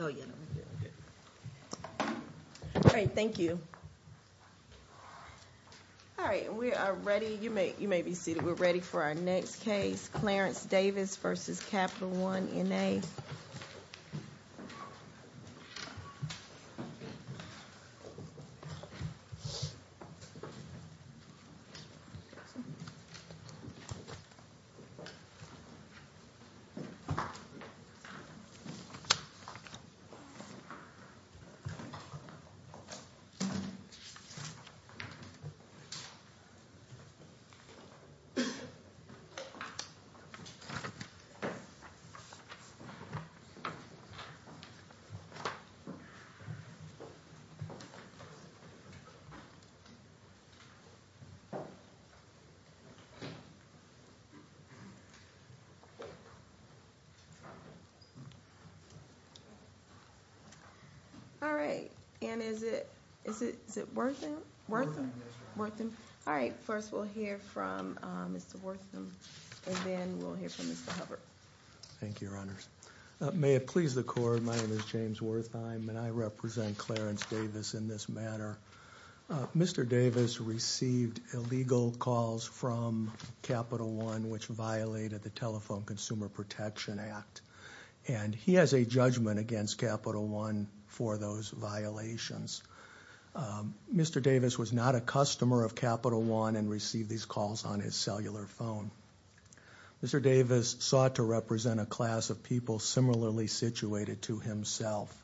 All right. Thank you. All right. We are ready. You may, you may be seated. We're ready for our next case. Clarence Davis v. Capital One N.A. All right. And is it, is it, is it Wortham? Wortham. Wortham. All right. First we'll hear from Mr. Wortham and then we'll hear from Mr. Hubbard. Thank you, Your Honors. May it please the Court, my name is James Wortham and I represent Clarence Davis in this matter. Mr. Davis received illegal calls from Capital One which violated the Telephone Consumer Protection Act and he has a judgment against Capital One for those violations. Mr. Davis was not a customer of Capital One and received these calls from Capital One. Mr. Davis sought to represent a class of people similarly situated to himself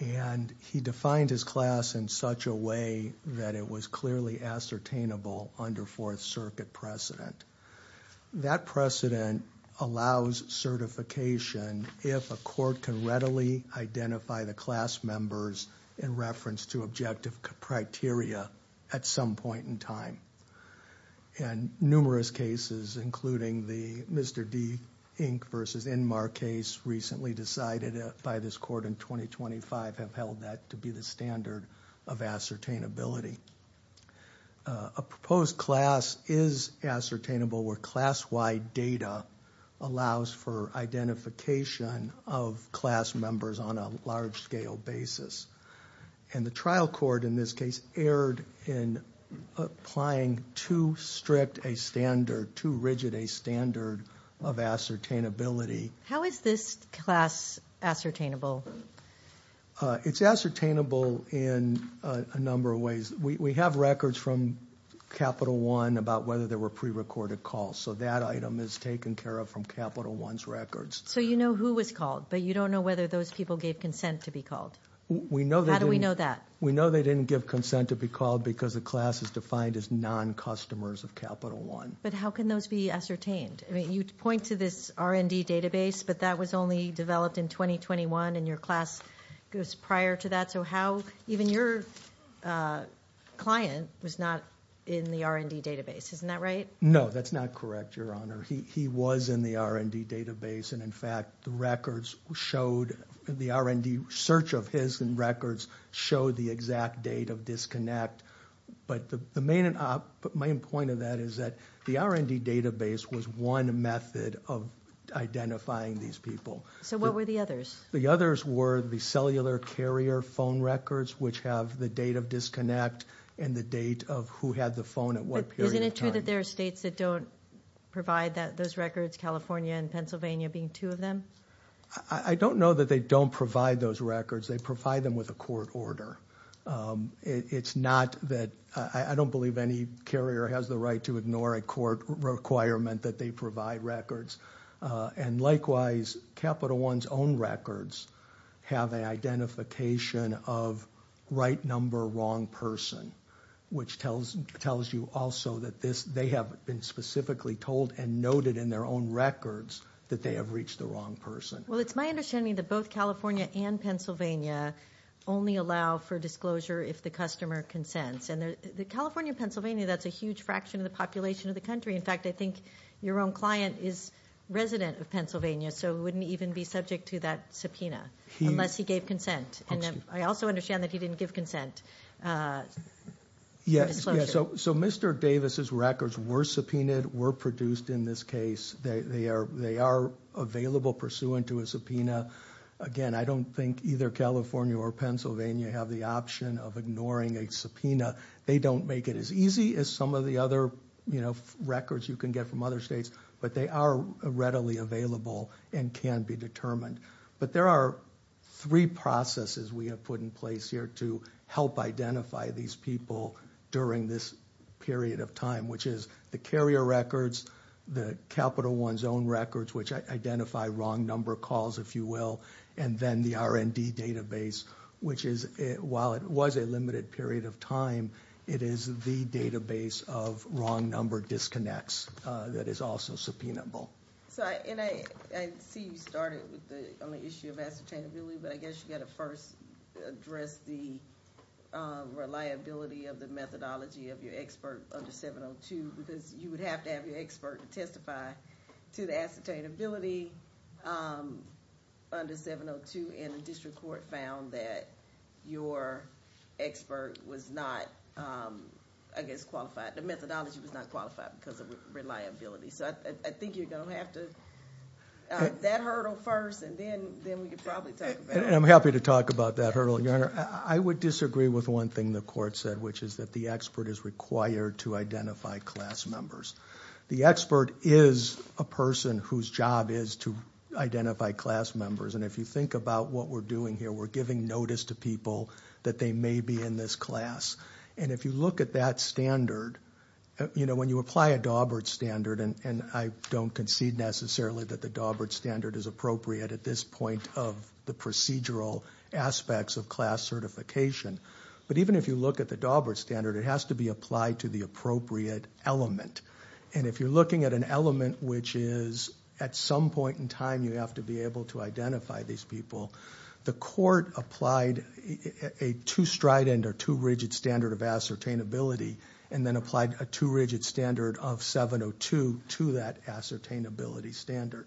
and he defined his class in such a way that it was clearly ascertainable under Fourth Circuit precedent. That precedent allows certification if a court can readily identify the class members in reference to objective criteria at some point in time. And numerous cases including the Mr. D. Inc. v. Enmar case recently decided by this court in 2025 have held that to be the standard of ascertainability. A proposed class is ascertainable where class-wide data allows for identification of class members on a large-scale basis. And the trial court in this case erred in applying too strict a standard, too rigid a standard of ascertainability. How is this class ascertainable? It's ascertainable in a number of ways. We have records from Capital One about whether there were pre-recorded calls. So that item is taken care of from Capital One's records. So you know who was called, but you don't know whether those people gave consent to be called? We know they didn't. How do we know that? We know they didn't give consent to be called because the class is defined as non-customers of Capital One. But how can those be ascertained? You point to this R&D database, but that was only developed in 2021 and your class goes prior to that. So even your client was not in the R&D database, isn't that right? No, that's not correct, Your Honor. He was in the R&D database. And in fact, the R&D search of his records showed the exact date of disconnect. But the main point of that is that the R&D database was one method of identifying these people. So what were the others? The others were the cellular carrier phone records, which have the date of disconnect and the date of who had the phone at what period of time. Isn't it true that there are states that don't provide those records, California and Pennsylvania being two of them? I don't know that they don't provide those records. They provide them with a court order. I don't believe any carrier has the right to ignore a court requirement that they provide records. And likewise, Capital One's own records have an identification of right number, wrong person, which tells you also that they have been specifically told and noted in their own records that they have reached the wrong person. Well, it's my understanding that both California and Pennsylvania only allow for disclosure if the customer consents. And California and Pennsylvania, that's a huge fraction of the population of the country. In fact, I think your own client is resident of Pennsylvania, so he wouldn't even be subject to that subpoena unless he gave consent. And I also understand that he didn't give consent. Yes, so Mr. Davis's records were subpoenaed, were produced in this case. They are available pursuant to a subpoena. Again, I don't think either California or Pennsylvania have the option of ignoring a subpoena. They don't make it as easy as some of the other records you can get from other states, but they are readily available and can be determined. But there are three processes we have put in place here to help identify these people during this period of time, which is the carrier records, the Capital One's own records, which identify wrong number calls, if you will. And then the R&D database, which is, while it was a limited period of time, it is the database of wrong number disconnects that is also subpoenable. I see you started on the issue of ascertainability, but I guess you got to first address the reliability of the methodology of your expert under 702, because you would have to have your expert to testify to the ascertainability under 702, and the district court found that your expert was not, I guess, qualified. The methodology was not qualified because of reliability. So I think you're going to have to, that hurdle first, and then we can probably talk about it. I'm happy to talk about that hurdle, Your Honor. I would disagree with one thing the court said, which is that the expert is required to identify class members. The expert is a person whose job is to identify class members. And if you think about what we're doing here, we're giving notice to people that they may be in this class. And if you look at that standard, you know, when you apply a Dawbert standard, and I don't concede necessarily that the Dawbert standard is appropriate at this point of the procedural aspects of class certification, but even if you look at the Dawbert standard, it has to be applied to the appropriate element. And if you're looking at an element which is at some point in time you have to be able to identify these people, the court applied a two-stride end or two-rigid standard of ascertainability and then applied a two-rigid standard of 702 to that ascertainability standard.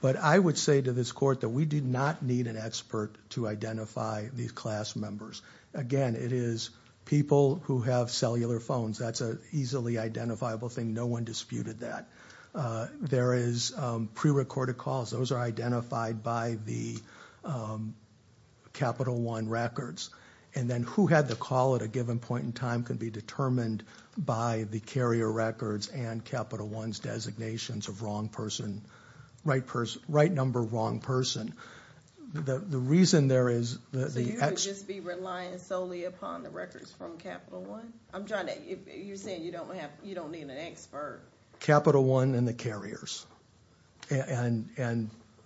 But I would say to this court that we did not need an expert to identify these class members. Again, it is people who have cellular phones. That's an easily identifiable thing. No one disputed that. There is prerecorded calls. Those are identified by the Capital One records. And then who had the call at a given point in time can be determined by the carrier records and Capital One's designations of wrong person, right person, right number, wrong person. The reason there is the experts. So you would just be relying solely upon the records from Capital One? I'm trying to, you're saying you don't have, you don't need an expert. Capital One and the carriers. And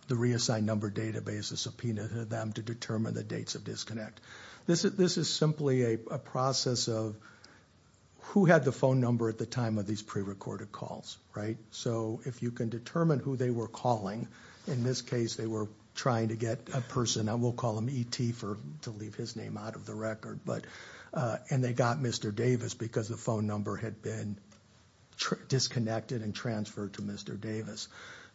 the reassigned number database is subpoenaed to them to determine the dates of disconnect. This is simply a process of who had the phone number at the time of these prerecorded calls, right? So if you can determine who they were calling, in this case they were trying to get a person, and we'll call them ET to leave his name out of the record, and they got Mr. Davis because the phone number had been disconnected and transferred to Mr. Davis.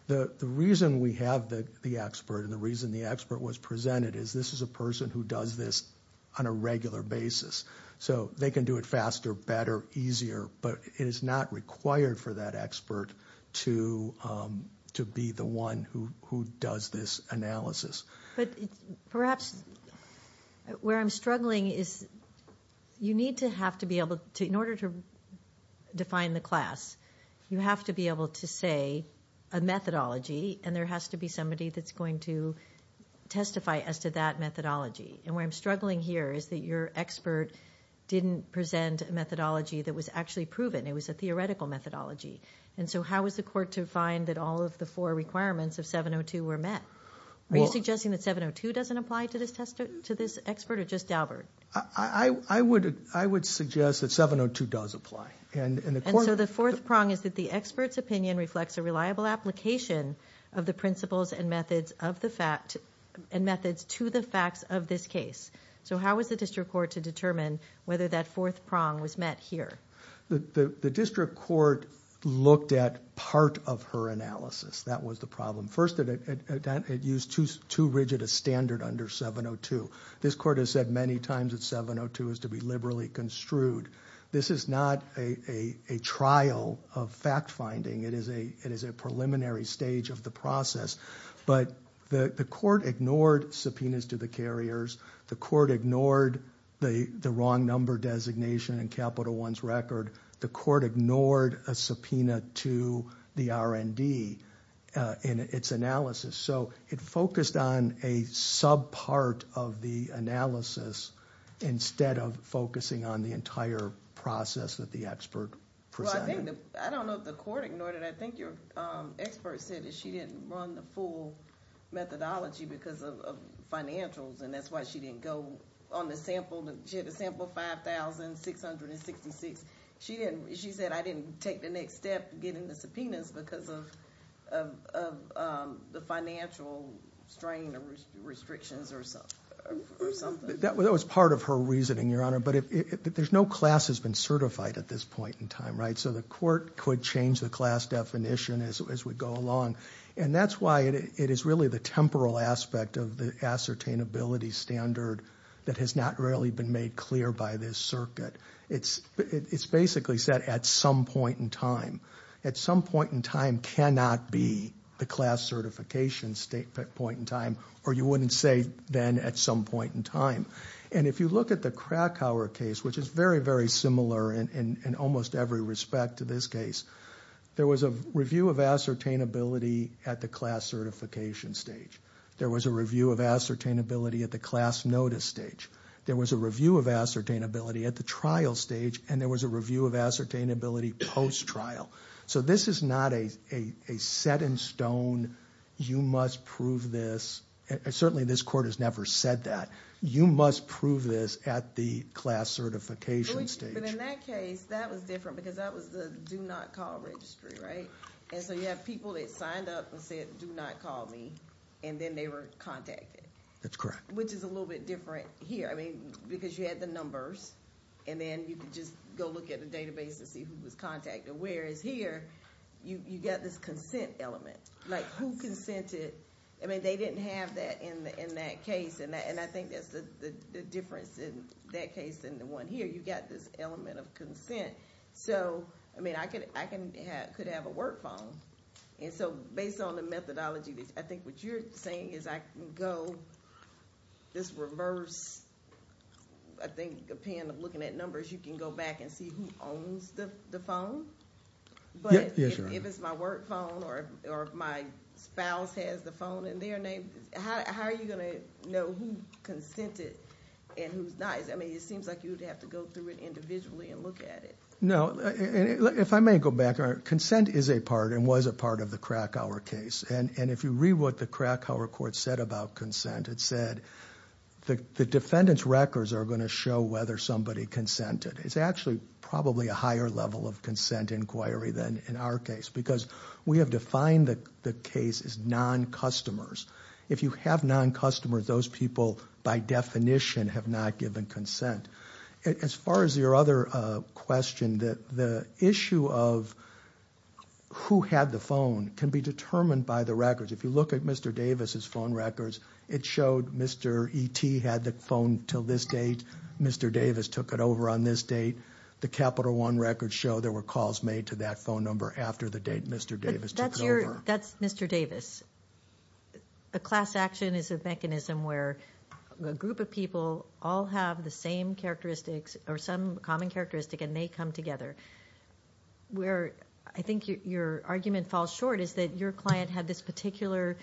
The reason we have the expert and the reason the expert was presented is this is a person who does this on a regular basis. So they can do it faster, better, easier, but it is not required for that expert to be the one who does this analysis. But perhaps where I'm struggling is you need to have to be able to, in order to define the class, you have to be able to say a methodology, and there has to be somebody that's going to testify as to that methodology. And where I'm struggling here is that your expert didn't present a methodology that was actually proven. It was a theoretical methodology. And so how is the court to find that all of the four requirements of 702 were met? Are you suggesting that 702 doesn't apply to this expert or just Daubert? I would suggest that 702 does apply. And so the fourth prong is that the expert's opinion reflects a reliable application of the principles and methods to the facts of this case. So how is the district court to determine whether that fourth prong was met here? The district court looked at part of her analysis. That was the problem. First, it used too rigid a standard under 702. This court has said many times that 702 is to be liberally construed. This is not a trial of fact-finding. It is a preliminary stage of the process. But the court ignored subpoenas to the carriers. The court ignored the wrong number designation in Capital One's record. The court ignored a subpoena to the R&D in its analysis. So it focused on a subpart of the analysis instead of focusing on the entire process that the expert presented. I don't know if the court ignored it. I think your expert said that she didn't run the full methodology because of financials. That's why she didn't go on the sample. She had a sample of 5,666. She said, I didn't take the next step getting the subpoenas because of the financial strain or restrictions or something. That was part of her reasoning, Your Honor. But there's no class that's been certified at this point in time. So the court could change the class definition as we go along. And that's why it is really the temporal aspect of the ascertainability standard that has not really been made clear by this circuit. It's basically set at some point in time. At some point in time cannot be the class certification point in time. Or you wouldn't say then at some point in time. And if you look at the Krakauer case, which is very, very similar in almost every respect to this case, there was a review of ascertainability at the class certification stage. There was a review of ascertainability at the class notice stage. There was a review of ascertainability at the trial stage, and there was a review of ascertainability post trial. So this is not a set in stone, you must prove this, and certainly this court has never said that, you must prove this at the class certification stage. But in that case, that was different because that was the do not call registry, right? And so you have people that signed up and said do not call me, and then they were contacted. That's correct. Which is a little bit different here. I mean, because you had the numbers, and then you could just go look at the database and see who was contacted. Whereas here, you got this consent element, like who consented. I mean, they didn't have that in that case, and I think that's the difference in that case than the one here. You got this element of consent. So, I mean, I could have a work phone. And so based on the methodology, I think what you're saying is I can go this reverse, I think, looking at numbers, you can go back and see who owns the phone? But if it's my work phone or if my spouse has the phone in their name, how are you going to know who consented and who's not? Because, I mean, it seems like you would have to go through it individually and look at it. No. If I may go back, consent is a part and was a part of the Krakauer case. And if you read what the Krakauer court said about consent, it said the defendant's records are going to show whether somebody consented. It's actually probably a higher level of consent inquiry than in our case, because we have defined the case as non-customers. If you have non-customers, those people, by definition, have not given consent. As far as your other question, the issue of who had the phone can be determined by the records. If you look at Mr. Davis' phone records, it showed Mr. E.T. had the phone until this date. Mr. Davis took it over on this date. The Capital One records show there were calls made to that phone number after the date Mr. Davis took over. That's Mr. Davis. A class action is a mechanism where a group of people all have the same characteristics or some common characteristic, and they come together. Where I think your argument falls short is that your client had this particular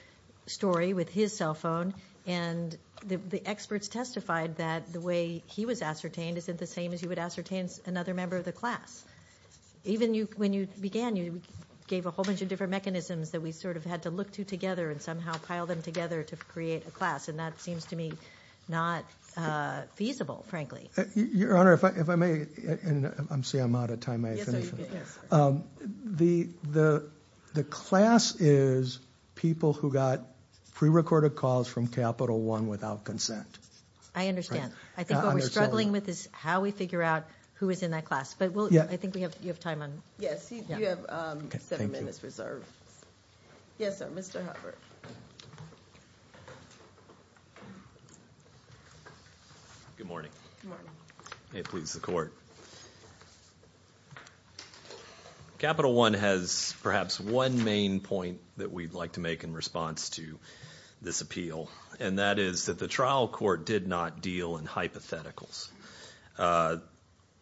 story with his cell phone, and the experts testified that the way he was ascertained isn't the same as you would ascertain another member of the class. Even when you began, you gave a whole bunch of different mechanisms that we sort of had to look to together and somehow pile them together to create a class, and that seems to me not feasible, frankly. Your Honor, if I may, and I'm sorry, I'm out of time. The class is people who got pre-recorded calls from Capital One without consent. I understand. I think what we're struggling with is how we figure out who was in that class. I think you have time. Yes, you have seven minutes reserved. Yes, sir, Mr. Hubbard. Good morning. Good morning. May it please the Court. Capital One has perhaps one main point that we'd like to make in response to this appeal, and that is that the trial court did not deal in hypotheticals.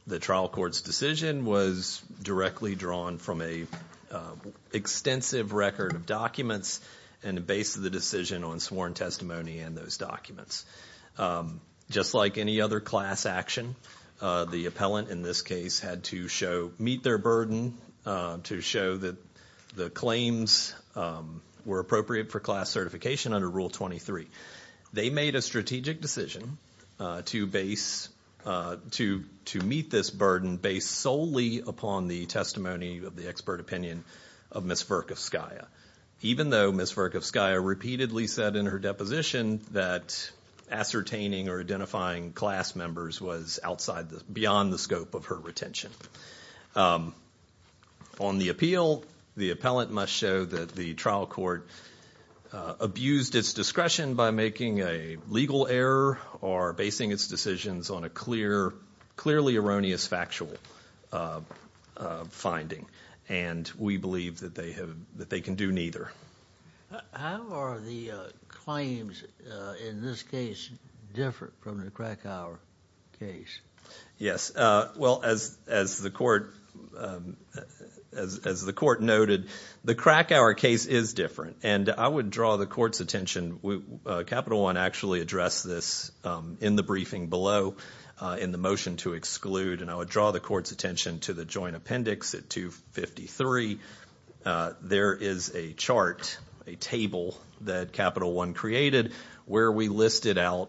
The trial court's decision was directly drawn from an extensive record of documents and the base of the decision on sworn testimony and those documents. Just like any other class action, the appellant in this case had to meet their burden to show that the claims were appropriate for class certification under Rule 23. They made a strategic decision to meet this burden based solely upon the testimony of the expert opinion of Ms. Verkovskaya, even though Ms. Verkovskaya repeatedly said in her deposition that ascertaining or identifying class members was beyond the scope of her retention. On the appeal, the appellant must show that the trial court abused its discretion by making a legal error or basing its decisions on a clearly erroneous factual finding, and we believe that they can do neither. How are the claims in this case different from the Krakauer case? Yes. Well, as the court noted, the Krakauer case is different, and I would draw the court's attention. Capital One actually addressed this in the briefing below in the motion to exclude, and I would draw the court's attention to the joint appendix at 253. There is a chart, a table that Capital One created where we listed out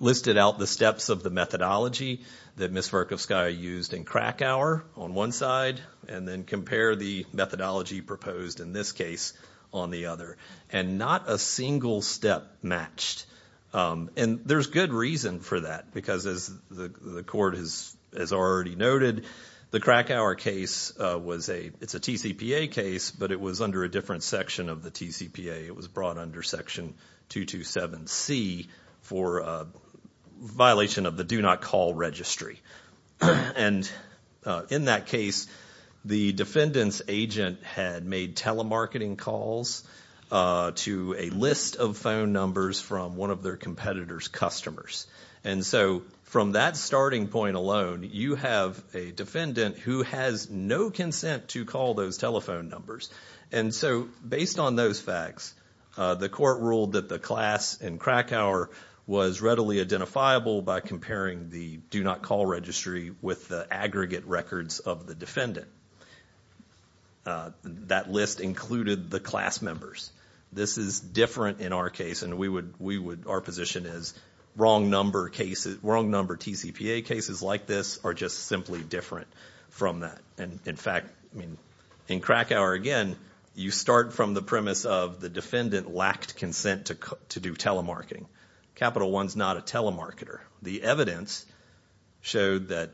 the steps of the methodology that Ms. Verkovskaya used in Krakauer on one side and then compared the methodology proposed in this case on the other, and not a single step matched. And there's good reason for that because, as the court has already noted, the Krakauer case was a TCPA case, but it was under a different section of the TCPA. It was brought under Section 227C for a violation of the Do Not Call Registry. And in that case, the defendant's agent had made telemarketing calls to a list of phone numbers from one of their competitor's customers. And so from that starting point alone, you have a defendant who has no consent to call those telephone numbers. And so based on those facts, the court ruled that the class in Krakauer was readily identifiable by comparing the Do Not Call Registry with the aggregate records of the defendant. That list included the class members. This is different in our case, and our position is wrong number TCPA cases like this are just simply different from that. In fact, in Krakauer, again, you start from the premise of the defendant lacked consent to do telemarketing. Capital One's not a telemarketer. The evidence showed that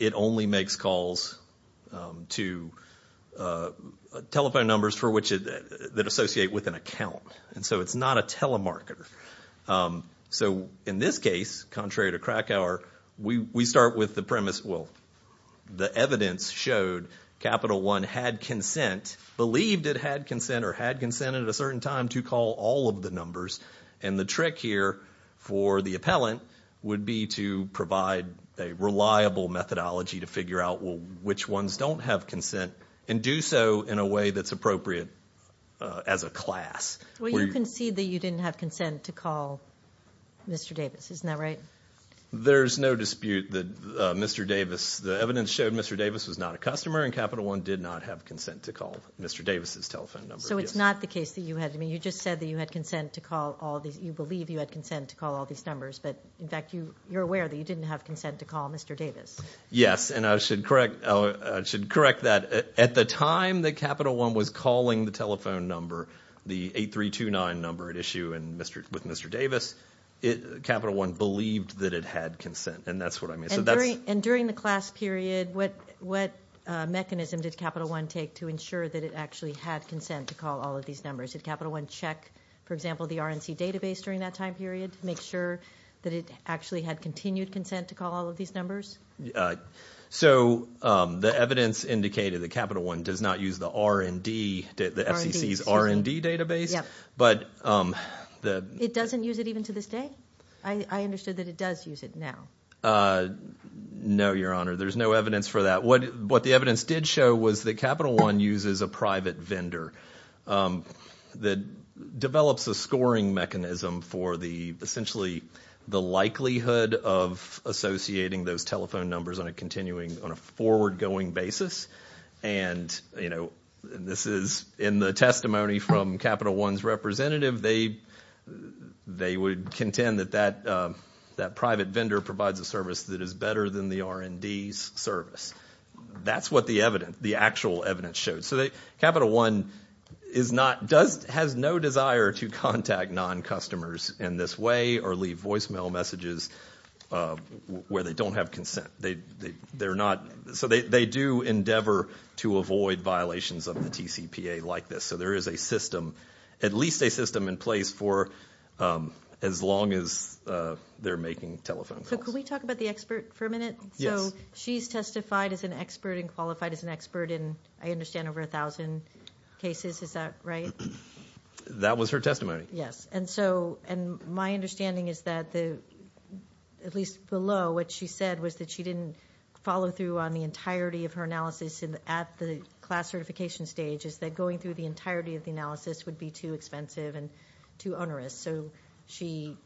it only makes calls to telephone numbers that associate with an account. And so it's not a telemarketer. So in this case, contrary to Krakauer, we start with the premise, well, the evidence showed Capital One had consent, believed it had consent or had consent at a certain time to call all of the numbers. And the trick here for the appellant would be to provide a reliable methodology to figure out, well, which ones don't have consent and do so in a way that's appropriate as a class. Well, you concede that you didn't have consent to call Mr. Davis. Isn't that right? There's no dispute that Mr. Davis, the evidence showed Mr. Davis was not a customer and Capital One did not have consent to call Mr. Davis' telephone number. So it's not the case that you had. I mean, you just said that you had consent to call all these. You believe you had consent to call all these numbers, but in fact you're aware that you didn't have consent to call Mr. Davis. Yes, and I should correct that. At the time that Capital One was calling the telephone number, the 8329 number at issue with Mr. Davis, Capital One believed that it had consent, and that's what I mean. And during the class period, what mechanism did Capital One take to ensure that it actually had consent to call all of these numbers? Did Capital One check, for example, the RNC database during that time period to make sure that it actually had continued consent to call all of these numbers? So the evidence indicated that Capital One does not use the R&D, the FCC's R&D database. It doesn't use it even to this day? I understood that it does use it now. No, Your Honor, there's no evidence for that. What the evidence did show was that Capital One uses a private vendor that develops a scoring mechanism for the, essentially, the likelihood of associating those telephone numbers on a continuing, on a forward-going basis. And, you know, this is in the testimony from Capital One's representative. They would contend that that private vendor provides a service that is better than the R&D's service. That's what the actual evidence showed. So Capital One has no desire to contact non-customers in this way or leave voicemail messages where they don't have consent. So they do endeavor to avoid violations of the TCPA like this. So there is a system, at least a system in place, for as long as they're making telephone calls. So could we talk about the expert for a minute? Yes. So she's testified as an expert and qualified as an expert in, I understand, over 1,000 cases. Is that right? That was her testimony. Yes. And my understanding is that, at least below, what she said was that she didn't follow through on the entirety of her analysis at the class certification stage, is that going through the entirety of the analysis would be too expensive and too onerous. So she,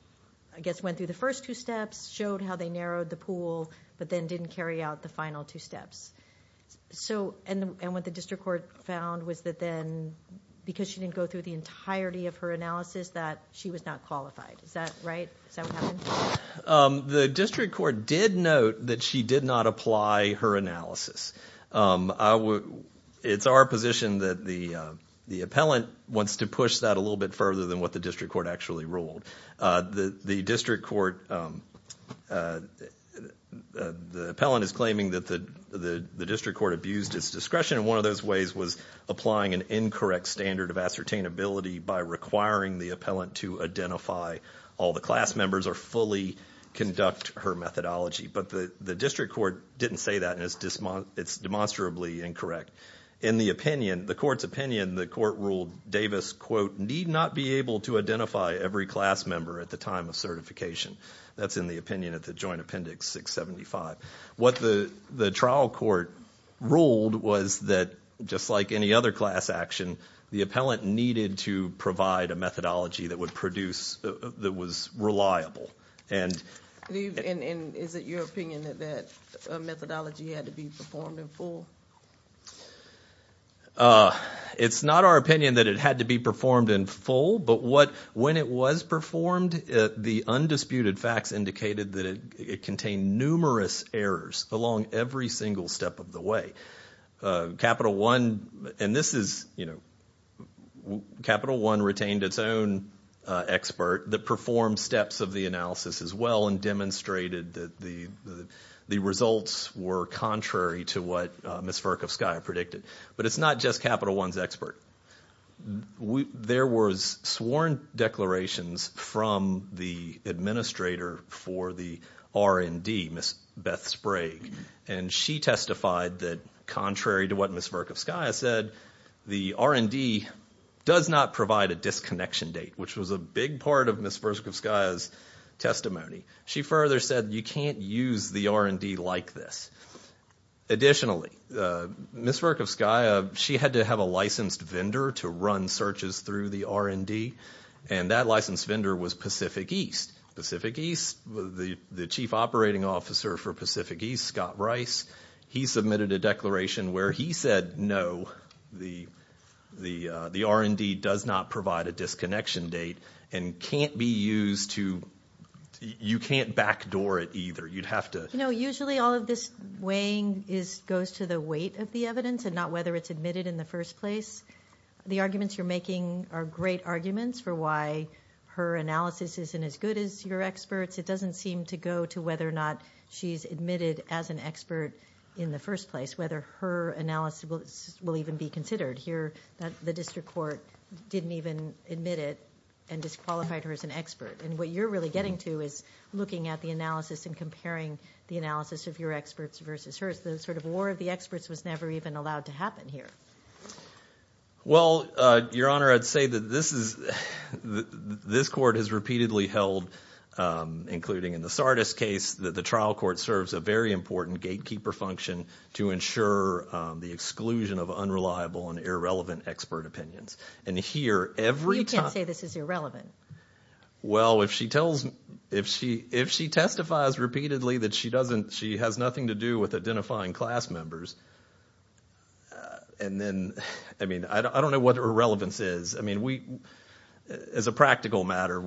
I guess, went through the first two steps, showed how they narrowed the pool, but then didn't carry out the final two steps. And what the district court found was that then, because she didn't go through the entirety of her analysis, that she was not qualified. Is that right? Is that what happened? The district court did note that she did not apply her analysis. It's our position that the appellant wants to push that a little bit further than what the district court actually ruled. The district court, the appellant is claiming that the district court abused its discretion, and one of those ways was applying an incorrect standard of ascertainability by requiring the appellant to identify all the class members or fully conduct her methodology. But the district court didn't say that, and it's demonstrably incorrect. In the opinion, the court's opinion, the court ruled Davis, quote, need not be able to identify every class member at the time of certification. That's in the opinion of the joint appendix 675. What the trial court ruled was that, just like any other class action, the appellant needed to provide a methodology that would produce, that was reliable. And is it your opinion that that methodology had to be performed in full? It's not our opinion that it had to be performed in full, but when it was performed, the undisputed facts indicated that it contained numerous errors along every single step of the way. Capital One, and this is, you know, Capital One retained its own expert that performed steps of the analysis as well and demonstrated that the results were contrary to what Ms. Verkovskaya predicted. But it's not just Capital One's expert. There was sworn declarations from the administrator for the R&D, Ms. Beth Sprague, and she testified that, contrary to what Ms. Verkovskaya said, the R&D does not provide a disconnection date, which was a big part of Ms. Verkovskaya's testimony. She further said you can't use the R&D like this. Additionally, Ms. Verkovskaya, she had to have a licensed vendor to run searches through the R&D, and that licensed vendor was Pacific East. Pacific East. The chief operating officer for Pacific East, Scott Rice, he submitted a declaration where he said no, the R&D does not provide a disconnection date and can't be used to, you can't backdoor it either. You'd have to. You know, usually all of this weighing goes to the weight of the evidence and not whether it's admitted in the first place. The arguments you're making are great arguments for why her analysis isn't as good as your experts. It doesn't seem to go to whether or not she's admitted as an expert in the first place, whether her analysis will even be considered. Here, the district court didn't even admit it and disqualified her as an expert. And what you're really getting to is looking at the analysis and comparing the analysis of your experts versus hers. The sort of war of the experts was never even allowed to happen here. Well, Your Honor, I'd say that this court has repeatedly held, including in the Sardis case, that the trial court serves a very important gatekeeper function to ensure the exclusion of unreliable and irrelevant expert opinions. You can't say this is irrelevant. Well, if she testifies repeatedly that she has nothing to do with identifying class members and then, I mean, I don't know what irrelevance is. I mean, we, as a practical matter,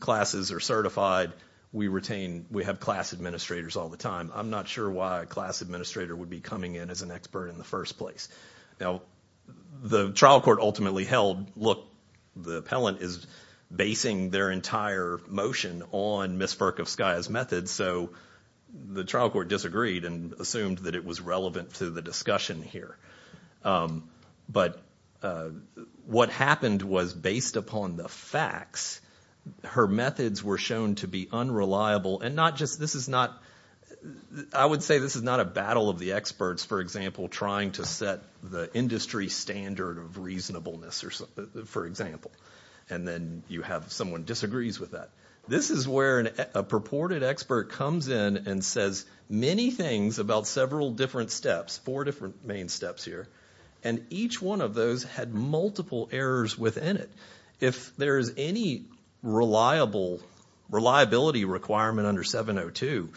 classes are certified. We retain, we have class administrators all the time. I'm not sure why a class administrator would be coming in as an expert in the first place. Now, the trial court ultimately held, look, the appellant is basing their entire motion on Ms. Verkovskaya's method, so the trial court disagreed and assumed that it was relevant to the discussion here. But what happened was, based upon the facts, her methods were shown to be unreliable, and not just, this is not, I would say this is not a battle of the experts, for example, trying to set the industry standard of reasonableness, for example, and then you have someone disagrees with that. This is where a purported expert comes in and says, many things about several different steps, four different main steps here, and each one of those had multiple errors within it. If there is any reliable, reliability requirement under 702,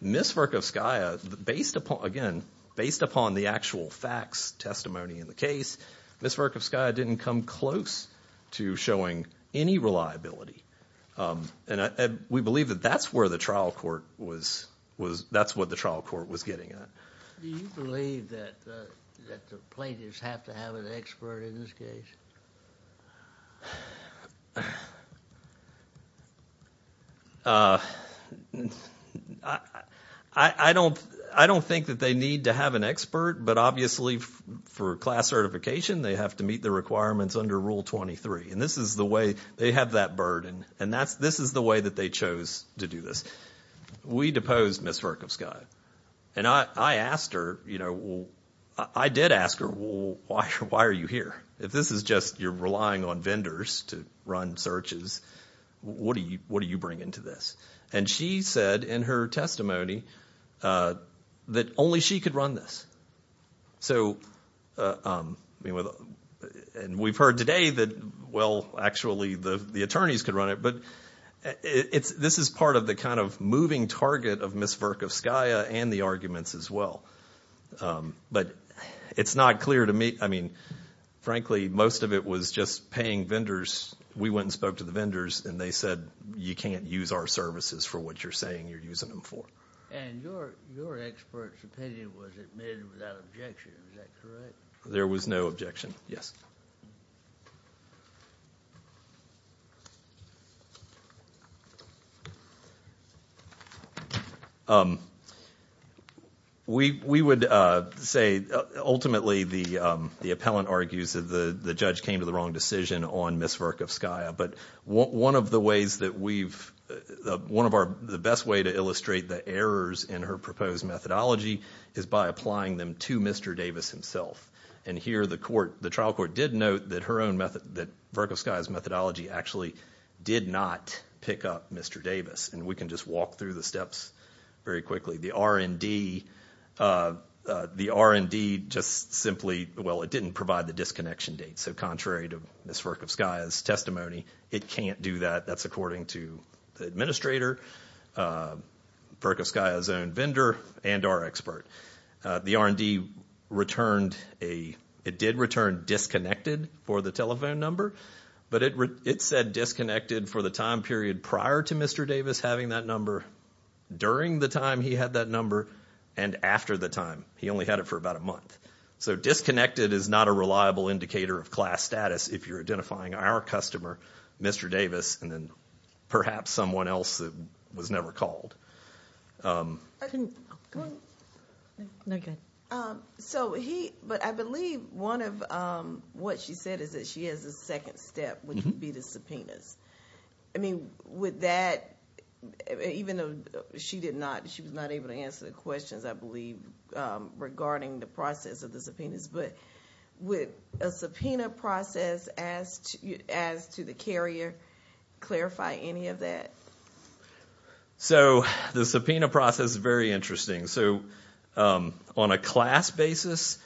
Ms. Verkovskaya, based upon, again, based upon the actual facts, testimony in the case, Ms. Verkovskaya didn't come close to showing any reliability. And we believe that that's where the trial court was, that's what the trial court was getting at. Do you believe that the plaintiffs have to have an expert in this case? I don't think that they need to have an expert, but obviously for class certification, they have to meet the requirements under Rule 23, and this is the way they have that burden, and this is the way that they chose to do this. We deposed Ms. Verkovskaya, and I asked her, you know, I did ask her, well, why are you here? If this is just you're relying on vendors to run searches, what do you bring into this? And she said in her testimony that only she could run this. So, and we've heard today that, well, actually the attorneys could run it, but this is part of the kind of moving target of Ms. Verkovskaya and the arguments as well. But it's not clear to me, I mean, frankly, most of it was just paying vendors. We went and spoke to the vendors, and they said, you can't use our services for what you're saying you're using them for. And your expert's opinion was admitted without objection. Is that correct? There was no objection, yes. We would say ultimately the appellant argues that the judge came to the wrong decision on Ms. Verkovskaya, but one of the ways that we've, one of our, the best way to illustrate the errors in her proposed methodology is by applying them to Mr. Davis himself. And here the court, the trial court did note that her own method, that Verkovskaya's methodology actually did not pick up Mr. Davis. And we can just walk through the steps very quickly. The R&D, the R&D just simply, well, it didn't provide the disconnection date. So contrary to Ms. Verkovskaya's testimony, it can't do that. That's according to the administrator, Verkovskaya's own vendor, and our expert. The R&D returned a, it did return disconnected for the telephone number, but it said disconnected for the time period prior to Mr. Davis having that number, during the time he had that number, and after the time. He only had it for about a month. So disconnected is not a reliable indicator of class status if you're identifying our customer, Mr. Davis, and then perhaps someone else that was never called. So he, but I believe one of what she said is that she has a second step, which would be the subpoenas. I mean, with that, even though she did not, she was not able to answer the questions, I believe, regarding the process of the subpoenas. But would a subpoena process, as to the carrier, clarify any of that? So the subpoena process is very interesting. So on a class basis,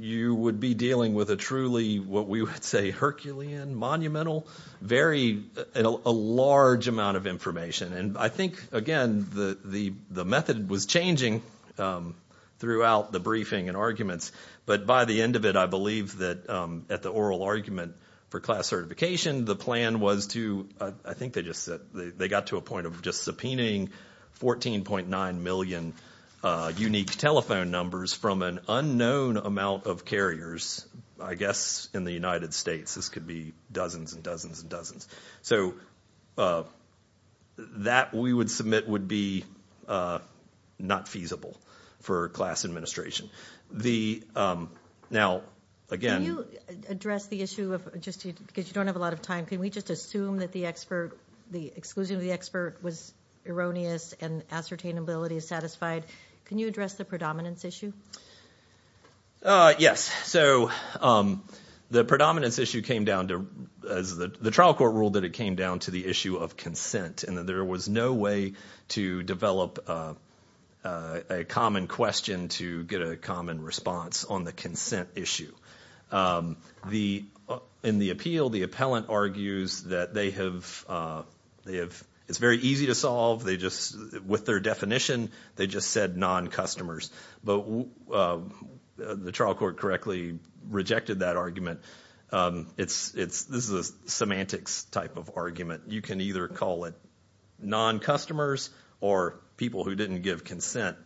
you would be dealing with a truly, what we would say, Herculean, monumental, very, a large amount of information. And I think, again, the method was changing throughout the briefing and arguments. But by the end of it, I believe that at the oral argument for class certification, the plan was to, I think they just said, they got to a point of just subpoenaing 14.9 million unique telephone numbers from an unknown amount of carriers, I guess, in the United States. This could be dozens and dozens and dozens. So that, we would submit, would be not feasible for class administration. Now, again. Can you address the issue of, just because you don't have a lot of time, can we just assume that the exclusion of the expert was erroneous and ascertainability is satisfied? Can you address the predominance issue? Yes. So the predominance issue came down to, the trial court ruled that it came down to the issue of consent and that there was no way to develop a common question to get a common response on the consent issue. In the appeal, the appellant argues that they have, it's very easy to solve. They just, with their definition, they just said non-customers. But the trial court correctly rejected that argument. This is a semantics type of argument. You can either call it non-customers or people who didn't give consent.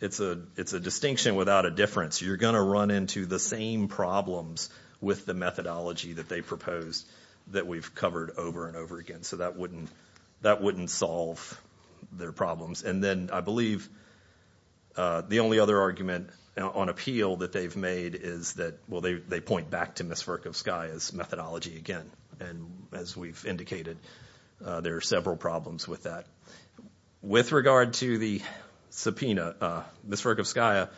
It's a distinction without a difference. You're going to run into the same problems with the methodology that they proposed that we've covered over and over again. So that wouldn't solve their problems. And then I believe the only other argument on appeal that they've made is that, well, they point back to Ms. Verkovskaya's methodology again. And as we've indicated, there are several problems with that. With regard to the subpoena, Ms. Verkovskaya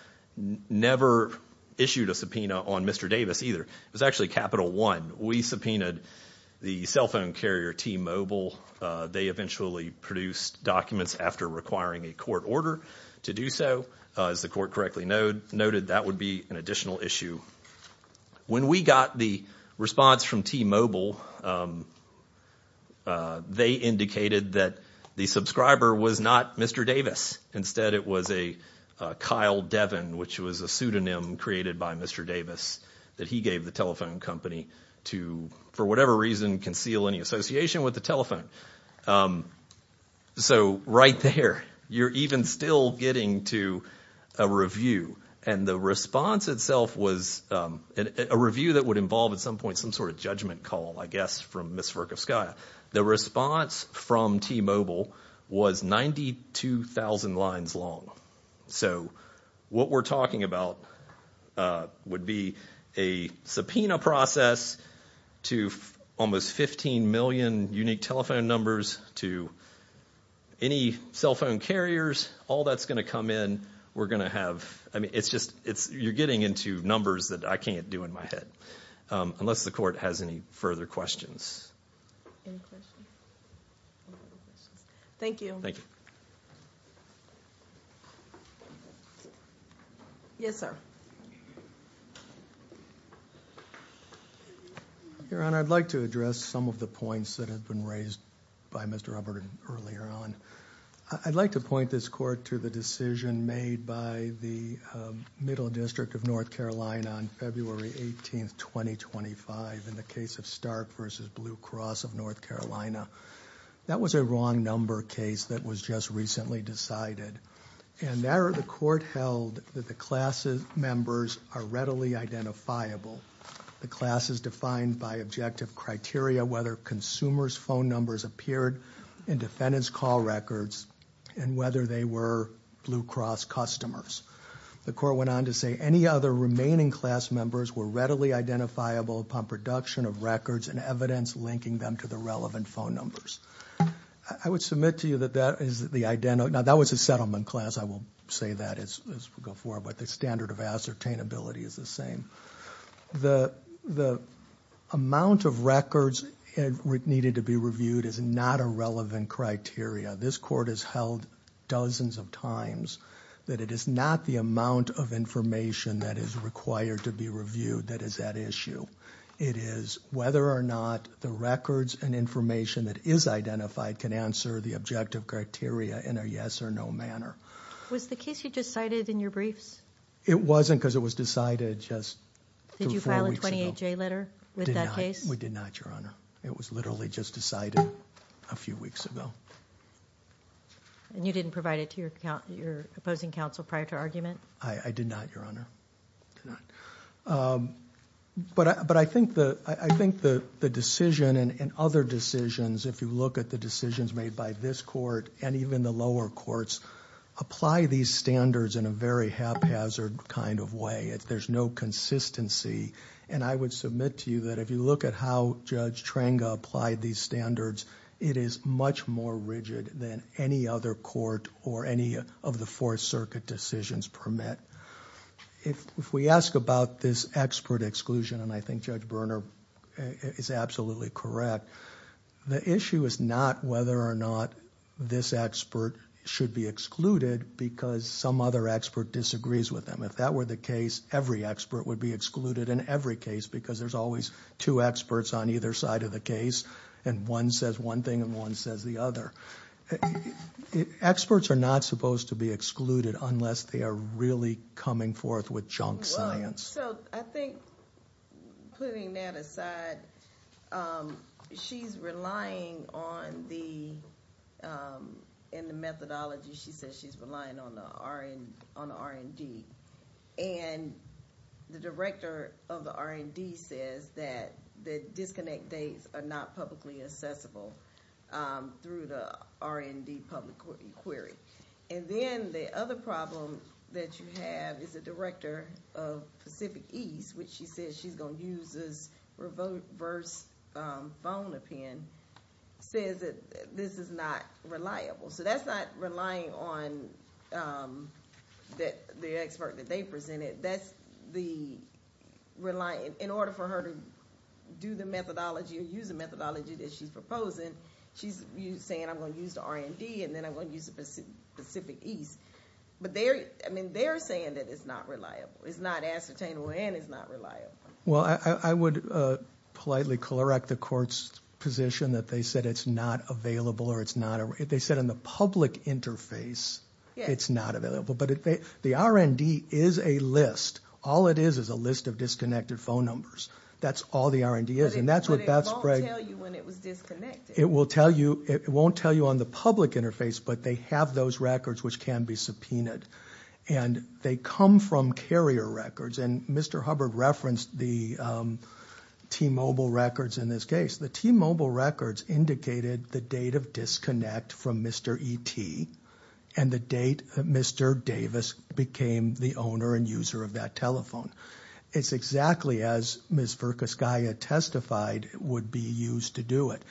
never issued a subpoena on Mr. Davis either. It was actually Capital One. We subpoenaed the cell phone carrier T-Mobile. They eventually produced documents after requiring a court order to do so. As the court correctly noted, that would be an additional issue. When we got the response from T-Mobile, they indicated that the subscriber was not Mr. Davis. Instead, it was a Kyle Devin, which was a pseudonym created by Mr. Davis, that he gave the telephone company to, for whatever reason, to conceal any association with the telephone. So right there, you're even still getting to a review. And the response itself was a review that would involve at some point some sort of judgment call, I guess, from Ms. Verkovskaya. The response from T-Mobile was 92,000 lines long. So what we're talking about would be a subpoena process to almost 15 million unique telephone numbers to any cell phone carriers. All that's going to come in. We're going to have – I mean, it's just – you're getting into numbers that I can't do in my head, unless the court has any further questions. Any questions? Thank you. Yes, sir. Your Honor, I'd like to address some of the points that have been raised by Mr. Hubbard earlier on. I'd like to point this court to the decision made by the Middle District of North Carolina on February 18th, 2025 in the case of Stark v. Blue Cross of North Carolina. That was a wrong number case that was just recently decided. And there, the court held that the class's members are readily identifiable. The class is defined by objective criteria, whether consumers' phone numbers appeared in defendant's call records, and whether they were Blue Cross customers. The court went on to say any other remaining class members were readily identifiable upon production of records and evidence linking them to the relevant phone numbers. I would submit to you that that is the – now, that was a settlement class. I will say that as we go forward, but the standard of ascertainability is the same. The amount of records that needed to be reviewed is not a relevant criteria. This court has held dozens of times that it is not the amount of information that is required to be reviewed that is at issue. It is whether or not the records and information that is identified can answer the objective criteria in a yes or no manner. Was the case you just cited in your briefs? It wasn't because it was decided just three or four weeks ago. Did you file a 28-J letter with that case? We did not, Your Honor. It was literally just decided a few weeks ago. And you didn't provide it to your opposing counsel prior to argument? I did not, Your Honor. But I think the decision and other decisions, if you look at the decisions made by this court and even the lower courts, apply these standards in a very haphazard kind of way. There's no consistency. And I would submit to you that if you look at how Judge Trenga applied these standards, it is much more rigid than any other court or any of the Fourth Circuit decisions permit. If we ask about this expert exclusion, and I think Judge Berner is absolutely correct, the issue is not whether or not this expert should be excluded because some other expert disagrees with them. If that were the case, every expert would be excluded in every case because there's always two experts on either side of the case, and one says one thing and one says the other. Experts are not supposed to be excluded unless they are really coming forth with junk science. So I think, putting that aside, she's relying on the methodology. She says she's relying on the R&D. And the director of the R&D says that the disconnect dates are not publicly accessible through the R&D public query. And then the other problem that you have is the director of Pacific East, which she says she's going to use as reverse phone opinion, says that this is not reliable. So that's not relying on the expert that they presented. That's the relying. In order for her to do the methodology or use the methodology that she's proposing, she's saying I'm going to use the R&D and then I'm going to use the Pacific East. But they're saying that it's not reliable. It's not ascertainable and it's not reliable. Well, I would politely correct the court's position that they said it's not available. They said in the public interface it's not available. But the R&D is a list. All it is is a list of disconnected phone numbers. That's all the R&D is. But it won't tell you when it was disconnected. It won't tell you on the public interface, but they have those records which can be subpoenaed. And they come from carrier records. And Mr. Hubbard referenced the T-Mobile records in this case. The T-Mobile records indicated the date of disconnect from Mr. E.T. and the date Mr. Davis became the owner and user of that telephone. It's exactly as Ms. Verkuskaya testified would be used to do it.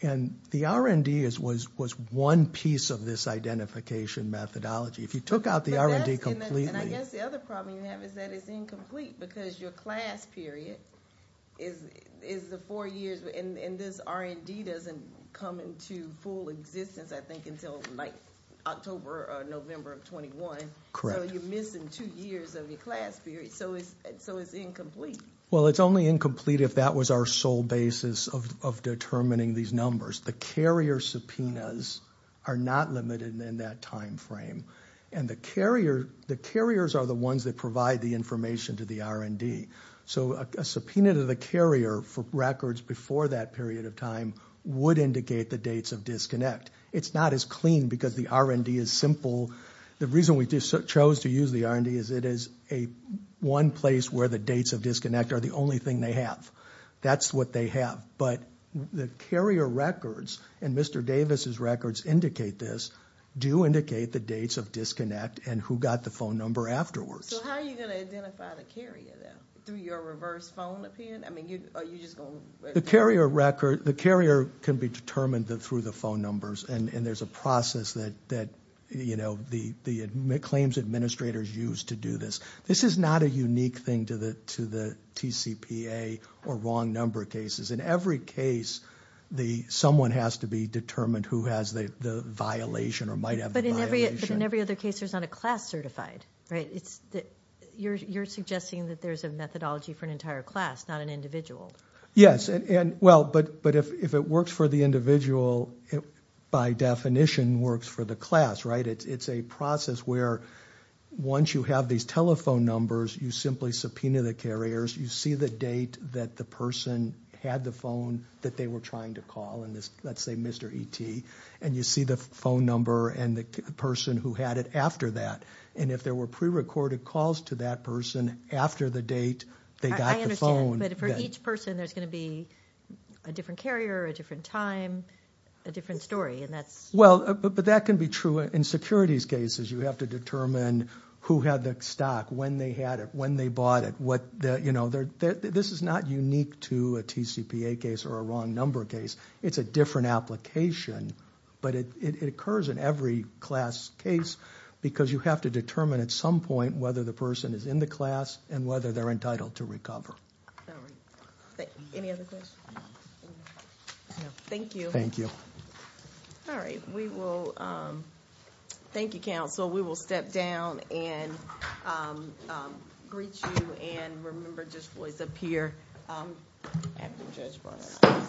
And the R&D was one piece of this identification methodology. If you took out the R&D completely. And I guess the other problem you have is that it's incomplete because your class period is the four years. And this R&D doesn't come into full existence, I think, until October or November of 21. Correct. So you're missing two years of your class period. So it's incomplete. Well, it's only incomplete if that was our sole basis of determining these numbers. The carrier subpoenas are not limited in that time frame. And the carriers are the ones that provide the information to the R&D. So a subpoena to the carrier for records before that period of time would indicate the dates of disconnect. It's not as clean because the R&D is simple. The reason we chose to use the R&D is it is one place where the dates of disconnect are the only thing they have. That's what they have. But the carrier records, and Mr. Davis' records indicate this, do indicate the dates of disconnect and who got the phone number afterwards. So how are you going to identify the carrier, then? Through your reverse phone appearance? I mean, are you just going to? The carrier can be determined through the phone numbers. And there's a process that the claims administrators use to do this. This is not a unique thing to the TCPA or wrong number cases. In every case, someone has to be determined who has the violation or might have the violation. But in every other case, there's not a class certified, right? You're suggesting that there's a methodology for an entire class, not an individual. Yes. Well, but if it works for the individual, it by definition works for the class, right? It's a process where once you have these telephone numbers, you simply subpoena the carriers. You see the date that the person had the phone that they were trying to call, and let's say Mr. E.T., and you see the phone number and the person who had it after that. And if there were prerecorded calls to that person after the date they got the phone. But for each person, there's going to be a different carrier, a different time, a different story. Well, but that can be true. In securities cases, you have to determine who had the stock, when they had it, when they bought it. This is not unique to a TCPA case or a wrong number case. It's a different application, but it occurs in every class case because you have to determine at some point whether the person is in the class and whether they're entitled to recover. All right. Any other questions? No. Thank you. Thank you. All right. We will thank you, counsel. We will step down and greet you, and remember, just voice up here after Judge Barra.